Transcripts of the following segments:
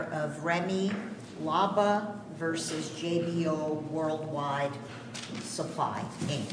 of Remy Laba v. JBO Worldwide Supply Inc.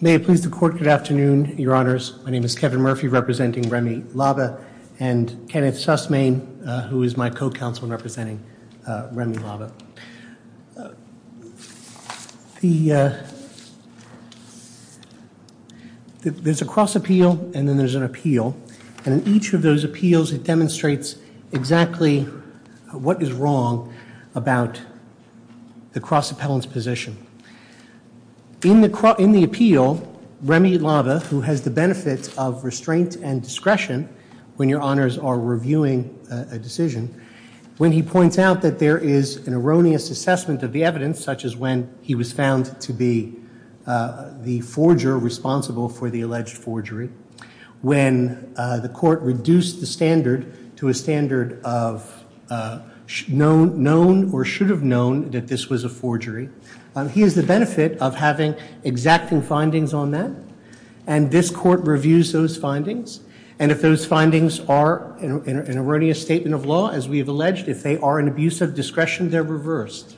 May it please the Court, good afternoon, Your Honors. My name is Kevin Murphy, representing Remy Laba, and Kenneth Sussmane, who is my co-counsel in representing Remy Laba. There's a cross-appeal and then there's an appeal, and in each of those appeals it demonstrates exactly what is wrong about the cross-appellant's position. In the appeal, Remy Laba, who has the benefit of restraint and discretion when Your Honors are reviewing a decision, when he points out that there is an erroneous assessment of the evidence, such as when he was found to be the forger responsible for the alleged forgery, when the Court reduced the standard to a standard of known or should have known that this was a forgery, he has the benefit of having exacting findings on that, and this Court reviews those findings, and if those findings are an erroneous statement of law, as we have alleged, if they are an abuse of discretion, they're reversed.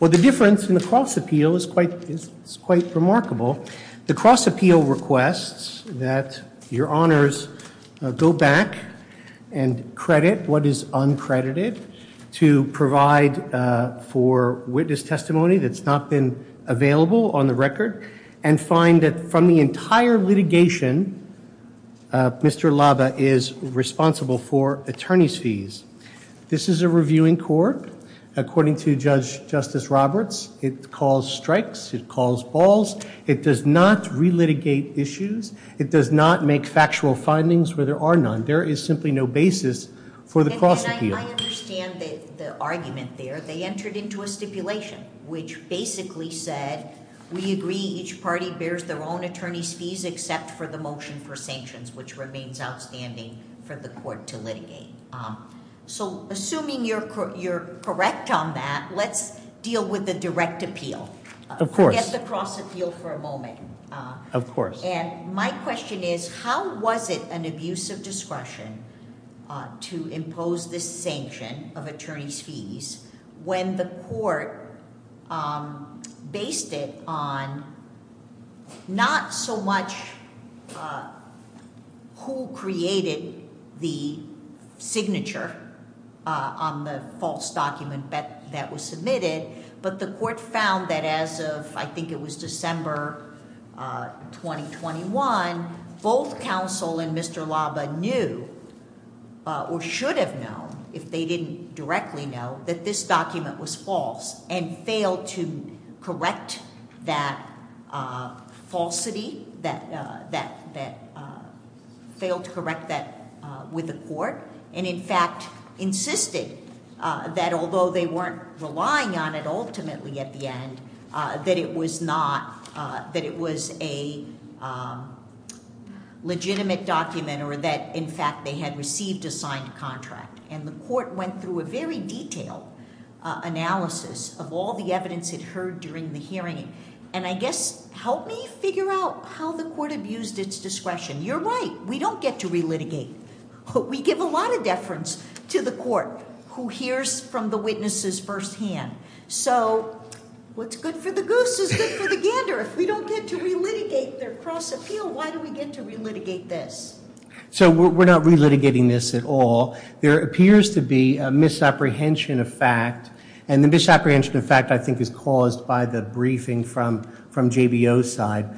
Well, the difference in the cross-appeal is quite remarkable. The cross-appeal requests that Your Honors go back and credit what is uncredited to provide for witness testimony that's not been available on the record and find that from the entire litigation, Mr. Laba is responsible for attorney's fees. This is a reviewing court. According to Judge Justice Roberts, it calls strikes. It calls balls. It does not relitigate issues. It does not make factual findings where there are none. There is simply no basis for the cross-appeal. And I understand the argument there. They entered into a stipulation which basically said, we agree each party bears their own attorney's fees except for the motion for sanctions, which remains outstanding for the Court to litigate. So assuming you're correct on that, let's deal with the direct appeal. Of course. Forget the cross-appeal for a moment. Of course. And my question is, how was it an abuse of discretion to impose this sanction of attorney's fees when the court based it on not so much who created the signature on the false document that was submitted, but the court found that as of, I think it was December 2021, both counsel and Mr. Laba knew or should have known if they didn't directly know that this document was false and failed to correct that falsity, that failed to correct that with the court, and in fact insisted that although they weren't relying on it ultimately at the end, that it was not, that it was a legitimate document or that in fact they had received a signed contract. And the court went through a very detailed analysis of all the evidence it heard during the hearing. And I guess help me figure out how the court abused its discretion. You're right. We don't get to relitigate. We give a lot of deference to the court who hears from the witnesses firsthand. So what's good for the goose is good for the gander. If we don't get to relitigate their cross-appeal, why do we get to relitigate this? So we're not relitigating this at all. There appears to be a misapprehension of fact, and the misapprehension of fact I think is caused by the briefing from JBO's side.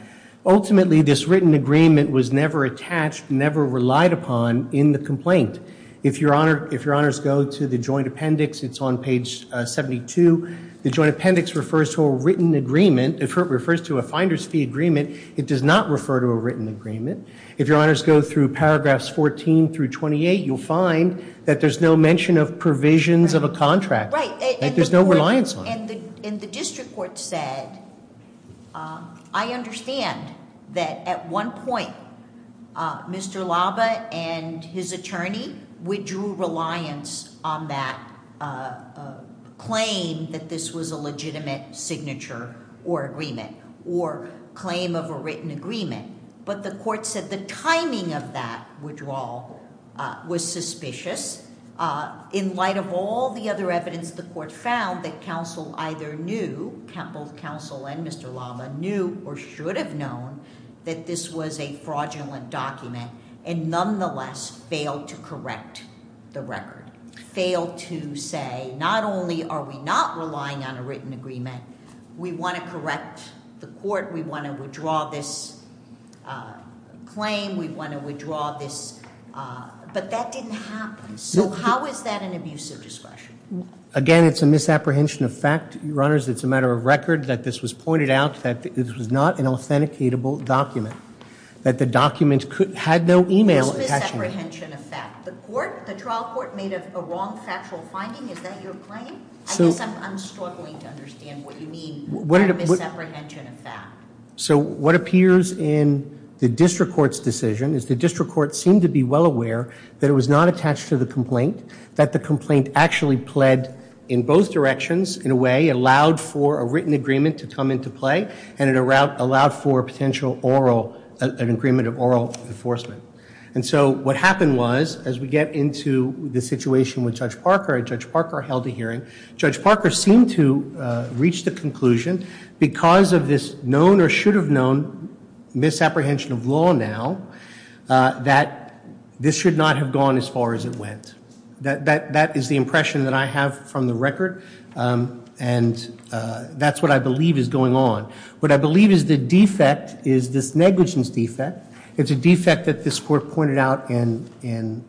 Ultimately, this written agreement was never attached, never relied upon in the complaint. If your honors go to the joint appendix, it's on page 72. The joint appendix refers to a written agreement. It refers to a finder's fee agreement. It does not refer to a written agreement. If your honors go through paragraphs 14 through 28, you'll find that there's no mention of provisions of a contract. There's no reliance on it. And the district court said, I understand that at one point, Mr. Laba and his attorney, we drew reliance on that claim that this was a legitimate signature or agreement or claim of a written agreement. But the court said the timing of that withdrawal was suspicious. In light of all the other evidence, the court found that counsel either knew, both counsel and Mr. Laba, knew or should have known that this was a fraudulent document and nonetheless failed to correct the record, failed to say not only are we not relying on a written agreement, we want to correct the court. We want to withdraw this claim. We want to withdraw this. But that didn't happen. So how is that an abuse of discretion? Again, it's a misapprehension of fact, your honors. It's a matter of record that this was pointed out that this was not an authenticatable document, that the document had no email attachment. Misapprehension of fact. The trial court made a wrong factual finding. Is that your claim? I guess I'm struggling to understand what you mean by misapprehension of fact. So what appears in the district court's decision is the district court seemed to be well aware that it was not attached to the complaint, that the complaint actually pled in both directions in a way, allowed for a written agreement to come into play, and it allowed for a potential oral, an agreement of oral enforcement. And so what happened was, as we get into the situation with Judge Parker, and Judge Parker held a hearing, Judge Parker seemed to reach the conclusion, because of this known or should have known misapprehension of law now, that this should not have gone as far as it went. That is the impression that I have from the record, and that's what I believe is going on. What I believe is the defect is this negligence defect. It's a defect that this court pointed out in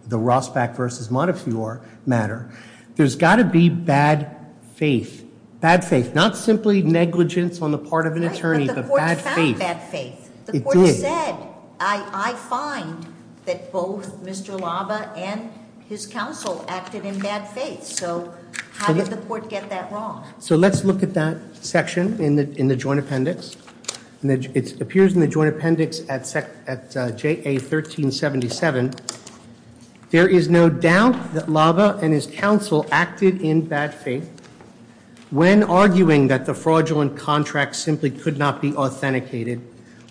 the Rosbach v. Montefiore matter. There's got to be bad faith. Bad faith, not simply negligence on the part of an attorney, but bad faith. Right, but the court found bad faith. It did. The court said, I find that both Mr. Lava and his counsel acted in bad faith. So how did the court get that wrong? So let's look at that section in the joint appendix. It appears in the joint appendix at JA 1377. There is no doubt that Lava and his counsel acted in bad faith. When arguing that the fraudulent contract simply could not be authenticated,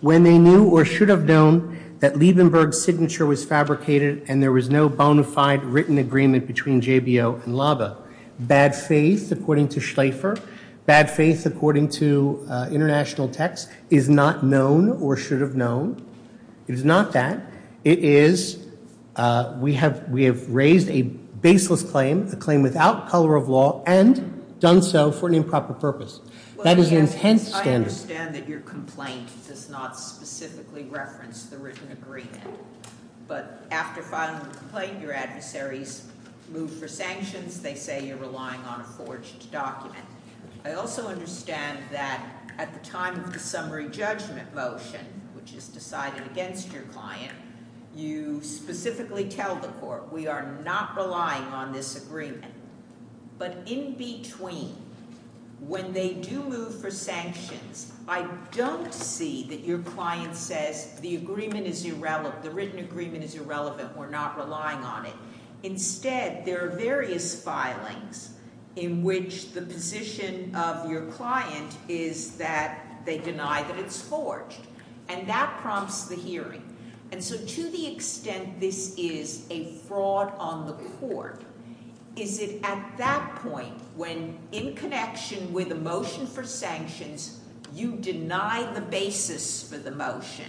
when they knew or should have known that Liebenberg's signature was fabricated and there was no bona fide written agreement between JBO and Lava. Bad faith, according to Schlaefer. Bad faith, according to international text, is not known or should have known. It is not that. It is, we have raised a baseless claim, a claim without color of law, and done so for an improper purpose. That is an intense standard. I understand that your complaint does not specifically reference the written agreement. But after filing a complaint, your adversaries move for sanctions. They say you're relying on a forged document. I also understand that at the time of the summary judgment motion, which is decided against your client, you specifically tell the court, we are not relying on this agreement. But in between, when they do move for sanctions, I don't see that your client says the written agreement is irrelevant, we're not relying on it. Instead, there are various filings in which the position of your client is that they deny that it's forged. And that prompts the hearing. And so to the extent this is a fraud on the court, is it at that point, when in connection with a motion for sanctions, you deny the basis for the motion,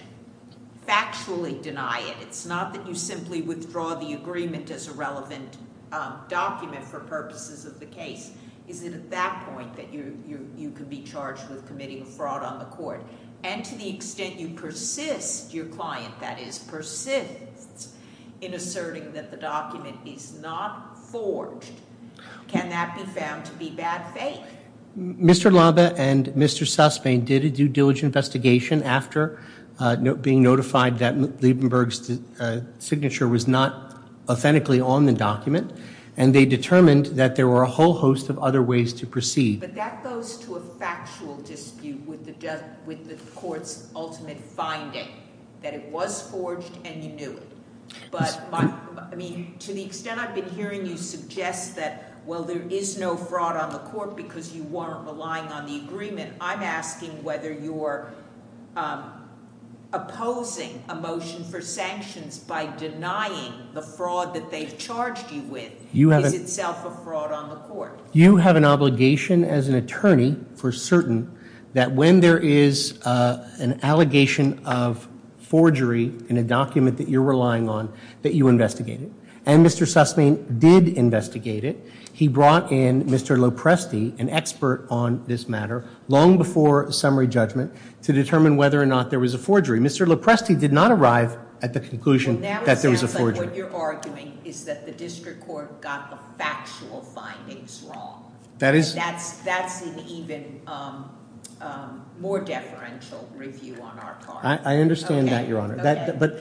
factually deny it, it's not that you simply withdraw the agreement as a relevant document for purposes of the case, is it at that point that you can be charged with committing a fraud on the court? And to the extent you persist, your client, that is, persists in asserting that the document is not forged, can that be found to be bad faith? Mr. Laba and Mr. Suspain did a due diligence investigation after being notified that Liebenberg's signature was not authentically on the document, and they determined that there were a whole host of other ways to proceed. But that goes to a factual dispute with the court's ultimate finding, that it was forged and you knew it. But, I mean, to the extent I've been hearing you suggest that, well, there is no fraud on the court because you weren't relying on the agreement. I'm asking whether you're opposing a motion for sanctions by denying the fraud that they've charged you with is itself a fraud on the court. You have an obligation as an attorney for certain that when there is an allegation of forgery in a document that you're relying on, that you investigate it. And Mr. Suspain did investigate it. He brought in Mr. Lopresti, an expert on this matter, long before summary judgment, to determine whether or not there was a forgery. Mr. Lopresti did not arrive at the conclusion that there was a forgery. Well, now it sounds like what you're arguing is that the district court got the factual findings wrong. That is... That's an even more deferential review on our part. I understand that, Your Honor. But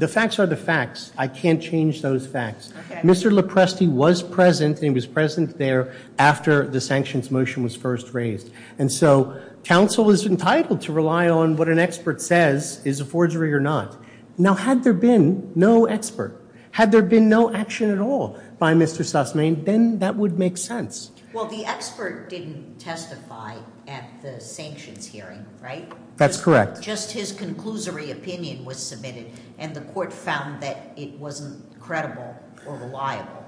the facts are the facts. I can't change those facts. Mr. Lopresti was present, and he was present there after the sanctions motion was first raised. And so counsel is entitled to rely on what an expert says is a forgery or not. Now, had there been no expert, had there been no action at all by Mr. Suspain, then that would make sense. Well, the expert didn't testify at the sanctions hearing, right? That's correct. Just his conclusory opinion was submitted, and the court found that it wasn't credible or reliable.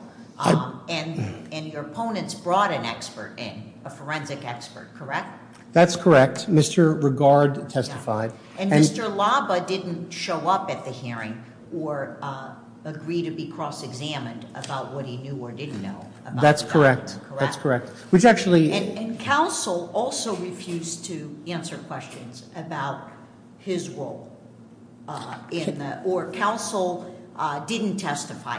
And your opponents brought an expert in, a forensic expert, correct? That's correct. Mr. Regard testified. And Mr. Laba didn't show up at the hearing or agree to be cross-examined about what he knew or didn't know. That's correct. That's correct. Which actually... And counsel also refused to answer questions about his role. Or counsel didn't testify,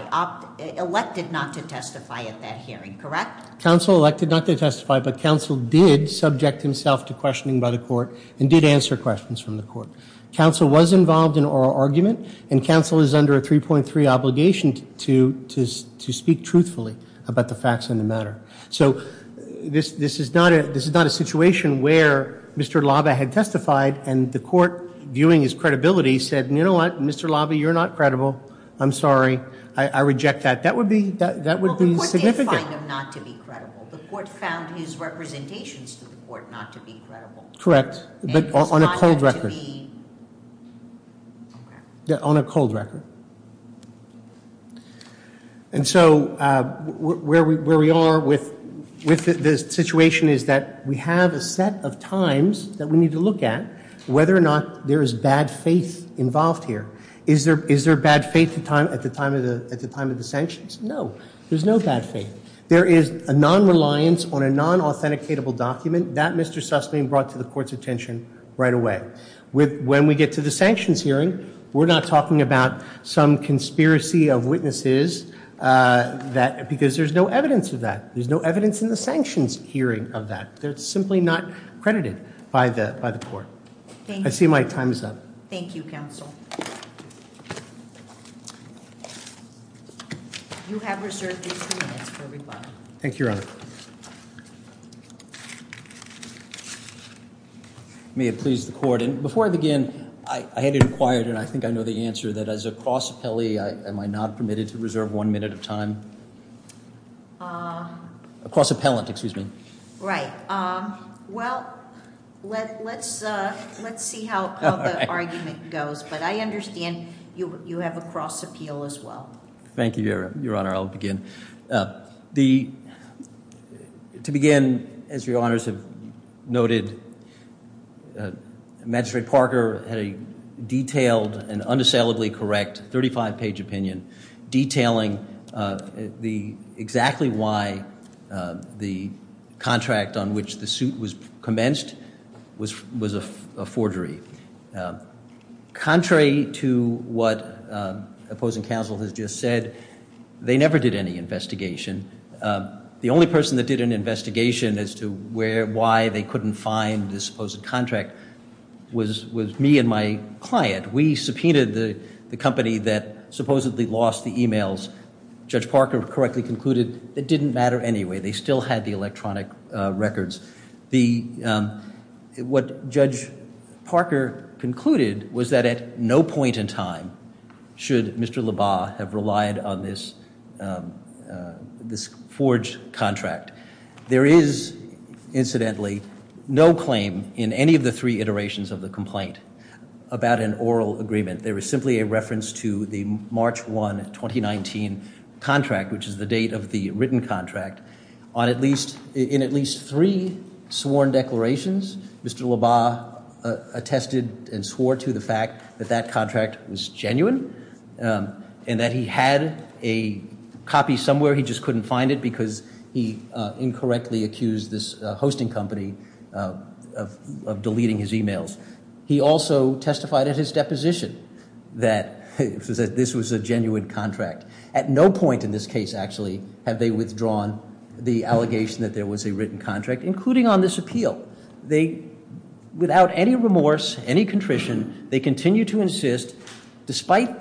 elected not to testify at that hearing, correct? Counsel elected not to testify, but counsel did subject himself to questioning by the court and did answer questions from the court. Counsel was involved in oral argument, and counsel is under a 3.3 obligation to speak truthfully about the facts of the matter. So this is not a situation where Mr. Laba had testified and the court, viewing his credibility, said, you know what, Mr. Laba, you're not credible. I'm sorry. I reject that. That would be significant. Well, the court did find him not to be credible. The court found his representations to the court not to be credible. Correct, but on a cold record. Okay. On a cold record. And so where we are with this situation is that we have a set of times that we need to look at whether or not there is bad faith involved here. Is there bad faith at the time of the sanctions? No, there's no bad faith. There is a non-reliance on a non-authenticatable document. That, Mr. Sussman, brought to the court's attention right away. When we get to the sanctions hearing, we're not talking about some conspiracy of witnesses because there's no evidence of that. There's no evidence in the sanctions hearing of that. It's simply not credited by the court. I see my time is up. Thank you, counsel. You have reserved your two minutes for rebuttal. Thank you, Your Honor. May it please the court. Before I begin, I had inquired, and I think I know the answer, that as a cross-appellee, am I not permitted to reserve one minute of time? A cross-appellant, excuse me. Right. Well, let's see how the argument goes, but I understand you have a cross-appeal as well. Thank you, Your Honor. I'll begin. To begin, as Your Honors have noted, Magistrate Parker had a detailed and unassailably correct 35-page opinion detailing exactly why the contract on which the suit was commenced was a forgery. Contrary to what opposing counsel has just said, they never did any investigation. The only person that did an investigation as to why they couldn't find the supposed contract was me and my client. We subpoenaed the company that supposedly lost the e-mails. Judge Parker correctly concluded it didn't matter anyway. They still had the electronic records. What Judge Parker concluded was that at no point in time should Mr. LaBarre have relied on this forged contract. There is, incidentally, no claim in any of the three iterations of the complaint about an oral agreement. There is simply a reference to the March 1, 2019 contract, which is the date of the written contract. In at least three sworn declarations, Mr. LaBarre attested and swore to the fact that that contract was genuine. And that he had a copy somewhere, he just couldn't find it because he incorrectly accused this hosting company of deleting his e-mails. He also testified at his deposition that this was a genuine contract. At no point in this case, actually, have they withdrawn the allegation that there was a written contract, including on this appeal. Without any remorse, any contrition, they continue to insist, despite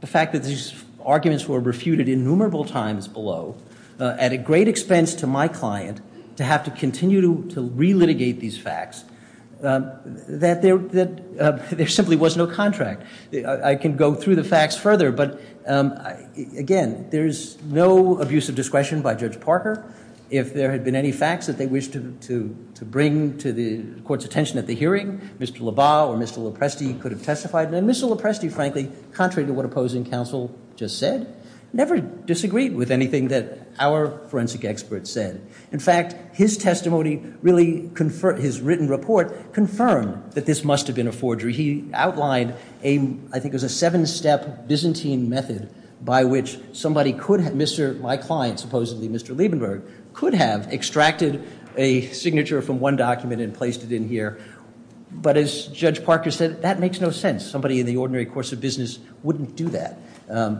the fact that these arguments were refuted innumerable times below, at a great expense to my client to have to continue to re-litigate these facts, that there simply was no contract. I can go through the facts further, but, again, there's no abuse of discretion by Judge Parker. If there had been any facts that they wished to bring to the court's attention at the hearing, Mr. LaBarre or Mr. Lopresti could have testified. And Mr. Lopresti, frankly, contrary to what opposing counsel just said, never disagreed with anything that our forensic experts said. In fact, his testimony really, his written report, confirmed that this must have been a forgery. He outlined a, I think it was a seven-step Byzantine method by which somebody could have, my client, supposedly Mr. Liebenberg, could have extracted a signature from one document and placed it in here. But, as Judge Parker said, that makes no sense. Somebody in the ordinary course of business wouldn't do that.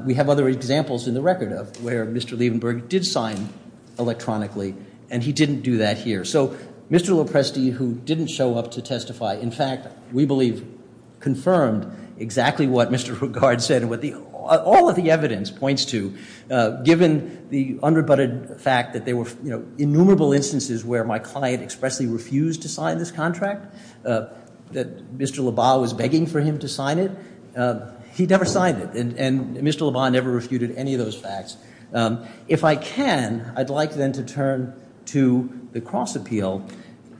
We have other examples in the record of where Mr. Liebenberg did sign electronically, and he didn't do that here. So Mr. Lopresti, who didn't show up to testify, in fact, we believe confirmed exactly what Mr. Rugard said and what all of the evidence points to, given the under-butted fact that there were innumerable instances where my client expressly refused to sign this contract, that Mr. Lebas was begging for him to sign it. He never signed it, and Mr. Lebas never refuted any of those facts. If I can, I'd like then to turn to the cross-appeal,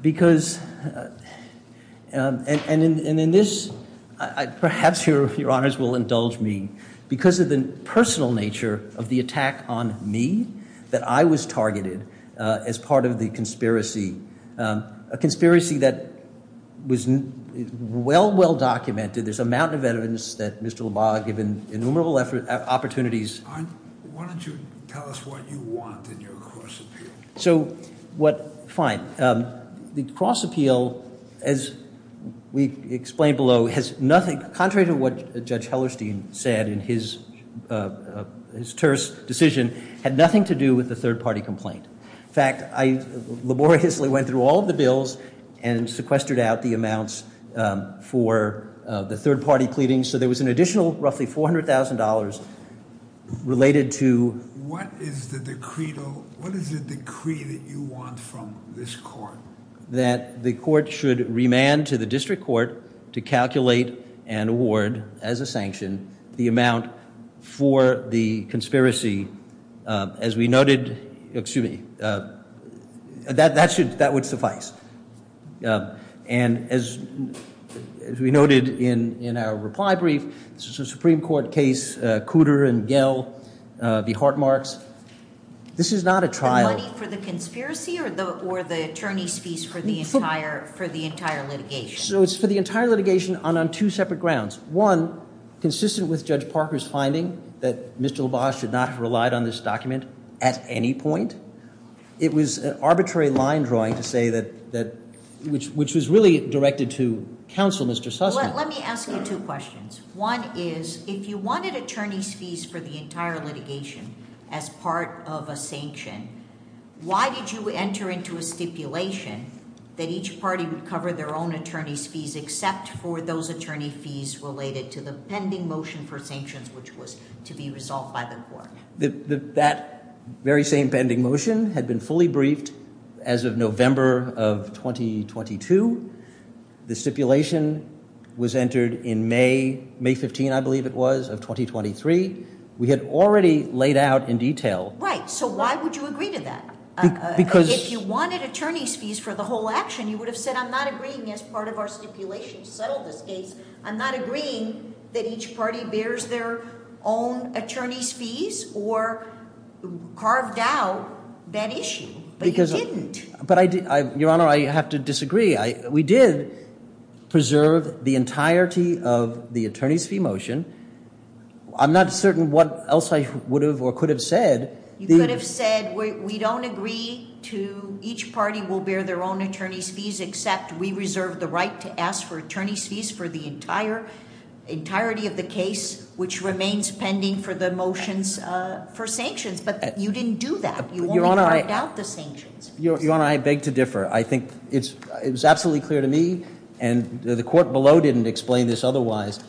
because, and in this, perhaps your honors will indulge me, because of the personal nature of the attack on me, that I was targeted as part of the conspiracy, a conspiracy that was well, well documented. There's a mountain of evidence that Mr. Lebas given innumerable opportunities. Why don't you tell us what you want in your cross-appeal? So, what, fine. The cross-appeal, as we explained below, has nothing, contrary to what Judge Hellerstein said in his terse decision, had nothing to do with the third-party complaint. In fact, I laboriously went through all of the bills and sequestered out the amounts for the third-party pleadings, so there was an additional roughly $400,000 related to What is the decree that you want from this court? that the court should remand to the district court to calculate and award, as a sanction, the amount for the conspiracy. As we noted, excuse me, that would suffice. And as we noted in our reply brief, this is a Supreme Court case, Cooter and Gehl v. Hartmarks. This is not a trial. Is it money for the conspiracy or the attorney's fees for the entire litigation? So it's for the entire litigation and on two separate grounds. One, consistent with Judge Parker's finding that Mr. Lebas should not have relied on this document at any point. It was an arbitrary line drawing to say that, which was really directed to counsel, Mr. Sussman. Let me ask you two questions. One is, if you wanted attorney's fees for the entire litigation as part of a sanction, why did you enter into a stipulation that each party would cover their own attorney's fees except for those attorney fees related to the pending motion for sanctions, which was to be resolved by the court? That very same pending motion had been fully briefed as of November of 2022. The stipulation was entered in May, May 15, I believe it was, of 2023. We had already laid out in detail. Right. So why would you agree to that? If you wanted attorney's fees for the whole action, you would have said I'm not agreeing as part of our stipulation to settle this case. I'm not agreeing that each party bears their own attorney's fees or carved out that issue. But you didn't. Your Honor, I have to disagree. We did preserve the entirety of the attorney's fee motion. I'm not certain what else I would have or could have said. You could have said we don't agree to each party will bear their own attorney's fees except we reserve the right to ask for attorney's fees for the entirety of the case, which remains pending for the motions for sanctions. But you didn't do that. You only carved out the sanctions. Your Honor, I beg to differ. I think it was absolutely clear to me, and the court below didn't explain this otherwise,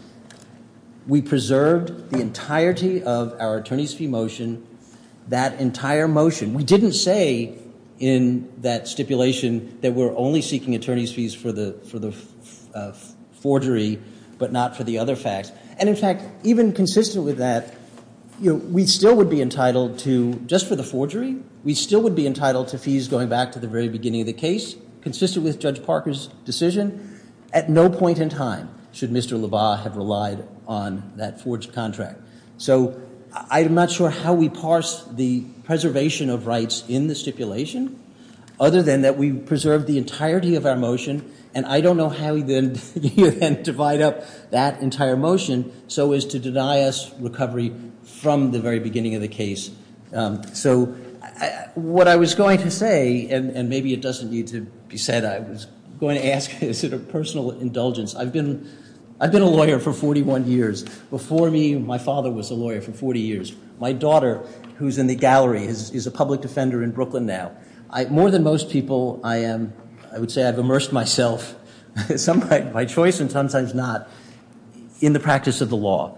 we preserved the entirety of our attorney's fee motion, that entire motion. We didn't say in that stipulation that we're only seeking attorney's fees for the forgery but not for the other facts. And, in fact, even consistent with that, we still would be entitled to, just for the forgery, we still would be entitled to fees going back to the very beginning of the case, consistent with Judge Parker's decision. At no point in time should Mr. LaValle have relied on that forged contract. So I'm not sure how we parse the preservation of rights in the stipulation other than that we preserved the entirety of our motion, and I don't know how we then divide up that entire motion so as to deny us recovery from the very beginning of the case. So what I was going to say, and maybe it doesn't need to be said, I was going to ask, is it a personal indulgence? I've been a lawyer for 41 years. Before me, my father was a lawyer for 40 years. My daughter, who's in the gallery, is a public defender in Brooklyn now. More than most people, I would say I've immersed myself, sometimes by choice and sometimes not, in the practice of the law.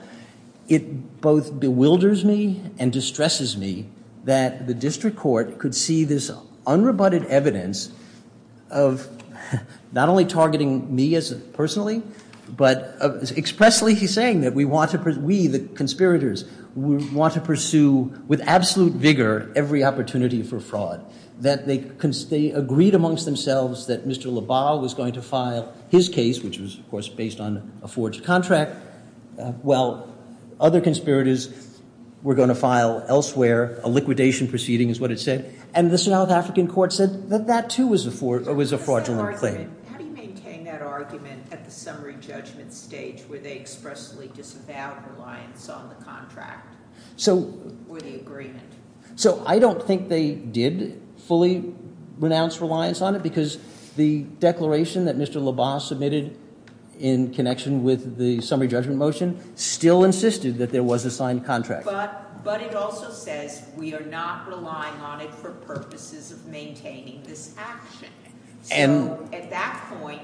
It both bewilders me and distresses me that the district court could see this unrebutted evidence of not only targeting me personally, but expressly saying that we, the conspirators, want to pursue with absolute vigor every opportunity for fraud, that they agreed amongst themselves that Mr. LaValle was going to file his case, which was, of course, based on a forged contract. Well, other conspirators were going to file elsewhere, a liquidation proceeding is what it said, and the South African court said that that too was a fraudulent claim. How do you maintain that argument at the summary judgment stage where they expressly disavowed reliance on the contract or the agreement? So I don't think they did fully renounce reliance on it because the declaration that Mr. LaValle submitted in connection with the summary judgment motion still insisted that there was a signed contract. But it also says we are not relying on it for purposes of maintaining this action. So at that point,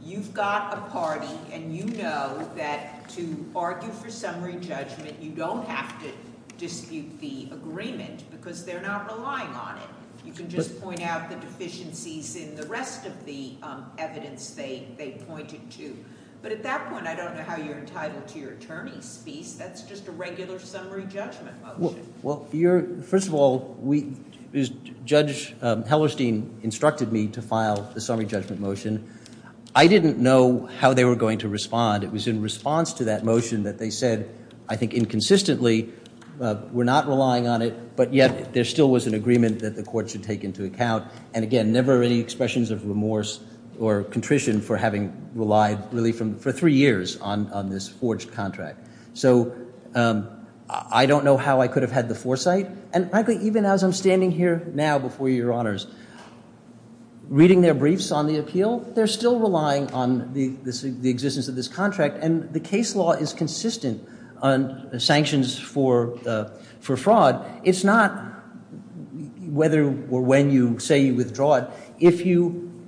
you've got a party, and you know that to argue for summary judgment, you don't have to dispute the agreement because they're not relying on it. You can just point out the deficiencies in the rest of the evidence they pointed to. But at that point, I don't know how you're entitled to your attorney's piece. That's just a regular summary judgment motion. Well, first of all, Judge Hellerstein instructed me to file the summary judgment motion. I didn't know how they were going to respond. It was in response to that motion that they said, I think inconsistently, we're not relying on it, but yet there still was an agreement that the court should take into account. And again, never any expressions of remorse or contrition for having relied really for three years on this forged contract. So I don't know how I could have had the foresight. And frankly, even as I'm standing here now before your honors reading their briefs on the appeal, they're still relying on the existence of this contract. And the case law is consistent on sanctions for fraud. It's not whether or when you say you withdraw it.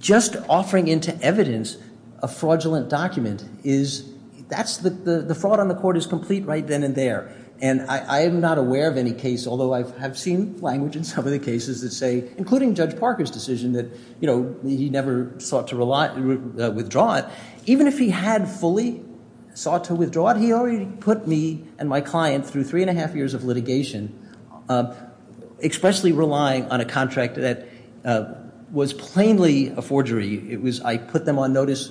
Just offering into evidence a fraudulent document, the fraud on the court is complete right then and there. And I am not aware of any case, although I have seen language in some of the cases that say, including Judge Parker's decision that he never sought to withdraw it. Even if he had fully sought to withdraw it, he already put me and my client through three and a half years of litigation, expressly relying on a contract that was plainly a forgery. I put them on notice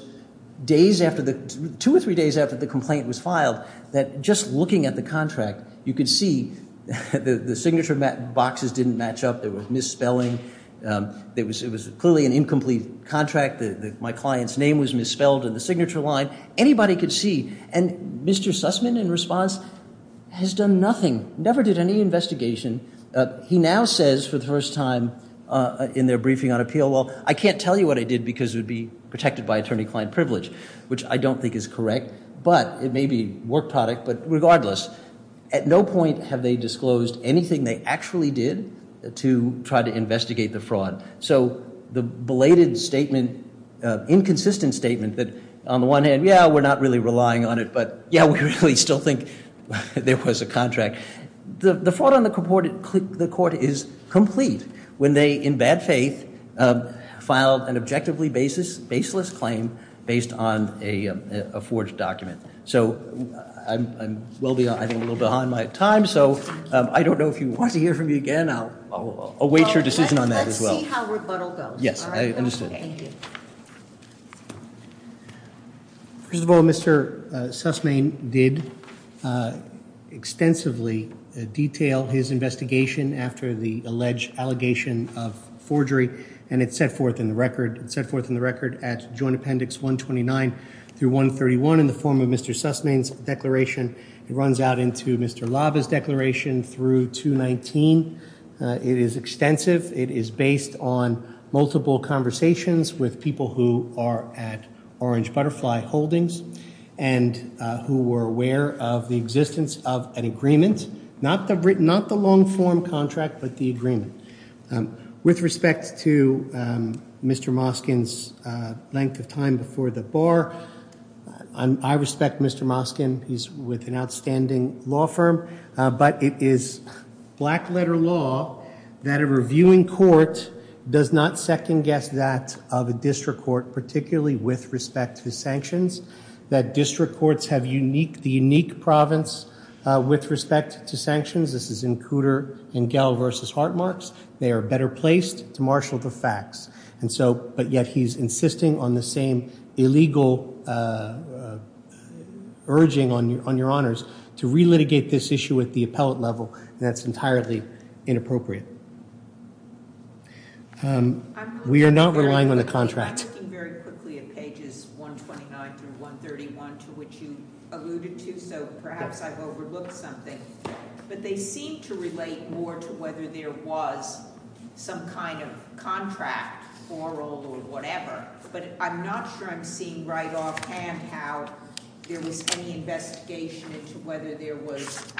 two or three days after the complaint was filed that just looking at the contract, you could see the signature boxes didn't match up. There was misspelling. It was clearly an incomplete contract. My client's name was misspelled in the signature line. Anybody could see. And Mr. Sussman, in response, has done nothing, never did any investigation. He now says for the first time in their briefing on appeal, well, I can't tell you what I did because it would be protected by attorney-client privilege, which I don't think is correct. But it may be work product. But regardless, at no point have they disclosed anything they actually did to try to investigate the fraud. So the belated statement, inconsistent statement that on the one hand, yeah, we're not really relying on it, but, yeah, we really still think there was a contract. The fraud on the court is complete when they, in bad faith, filed an objectively baseless claim based on a forged document. So I'm a little behind my time, so I don't know if you want to hear from me again. I'll await your decision on that as well. We'll see how rebuttal goes. Yes, I understand. Thank you. First of all, Mr. Sussman did extensively detail his investigation after the alleged allegation of forgery, and it's set forth in the record at Joint Appendix 129 through 131 in the form of Mr. Sussman's declaration. It runs out into Mr. Lava's declaration through 219. It is extensive. It is based on multiple conversations with people who are at Orange Butterfly Holdings and who were aware of the existence of an agreement, not the long form contract, but the agreement. With respect to Mr. Moskin's length of time before the bar, I respect Mr. Moskin. He's with an outstanding law firm. But it is black-letter law that a reviewing court does not second-guess that of a district court, particularly with respect to sanctions, that district courts have the unique province with respect to sanctions. This is in Cooter and Gehl v. Hartmarks. They are better placed to marshal the facts. But yet he's insisting on the same illegal urging on your honors to relitigate this issue at the appellate level, and that's entirely inappropriate. We are not relying on the contract. I'm looking very quickly at pages 129 through 131, to which you alluded to, so perhaps I've overlooked something. But they seem to relate more to whether there was some kind of contract, oral or whatever. But I'm not sure I'm seeing right off hand how there was any investigation into whether there was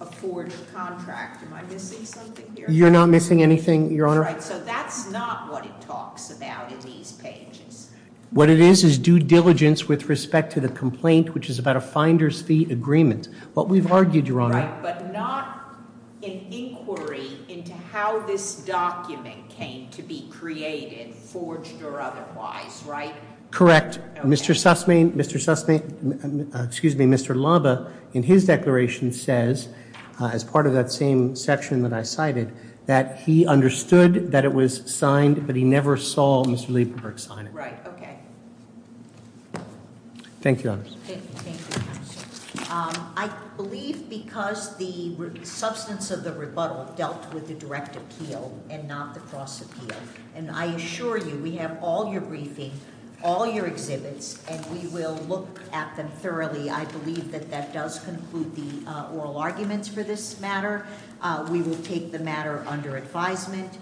a forwarded contract. Am I missing something here? You're not missing anything, your honor. Right, so that's not what it talks about in these pages. What it is is due diligence with respect to the complaint, which is about a finder's fee agreement. What we've argued, your honor- Right, but not an inquiry into how this document came to be created, forged or otherwise, right? Correct. Mr. Sussman, Mr. Sussman, excuse me, Mr. Laba, in his declaration says, as part of that same section that I cited, that he understood that it was signed, but he never saw Mr. Laperberg sign it. Right, okay. Thank you, your honor. Thank you, counsel. I believe because the substance of the rebuttal dealt with the direct appeal and not the cross appeal. And I assure you, we have all your briefing, all your exhibits, and we will look at them thoroughly. I believe that that does conclude the oral arguments for this matter. We will take the matter under advisement.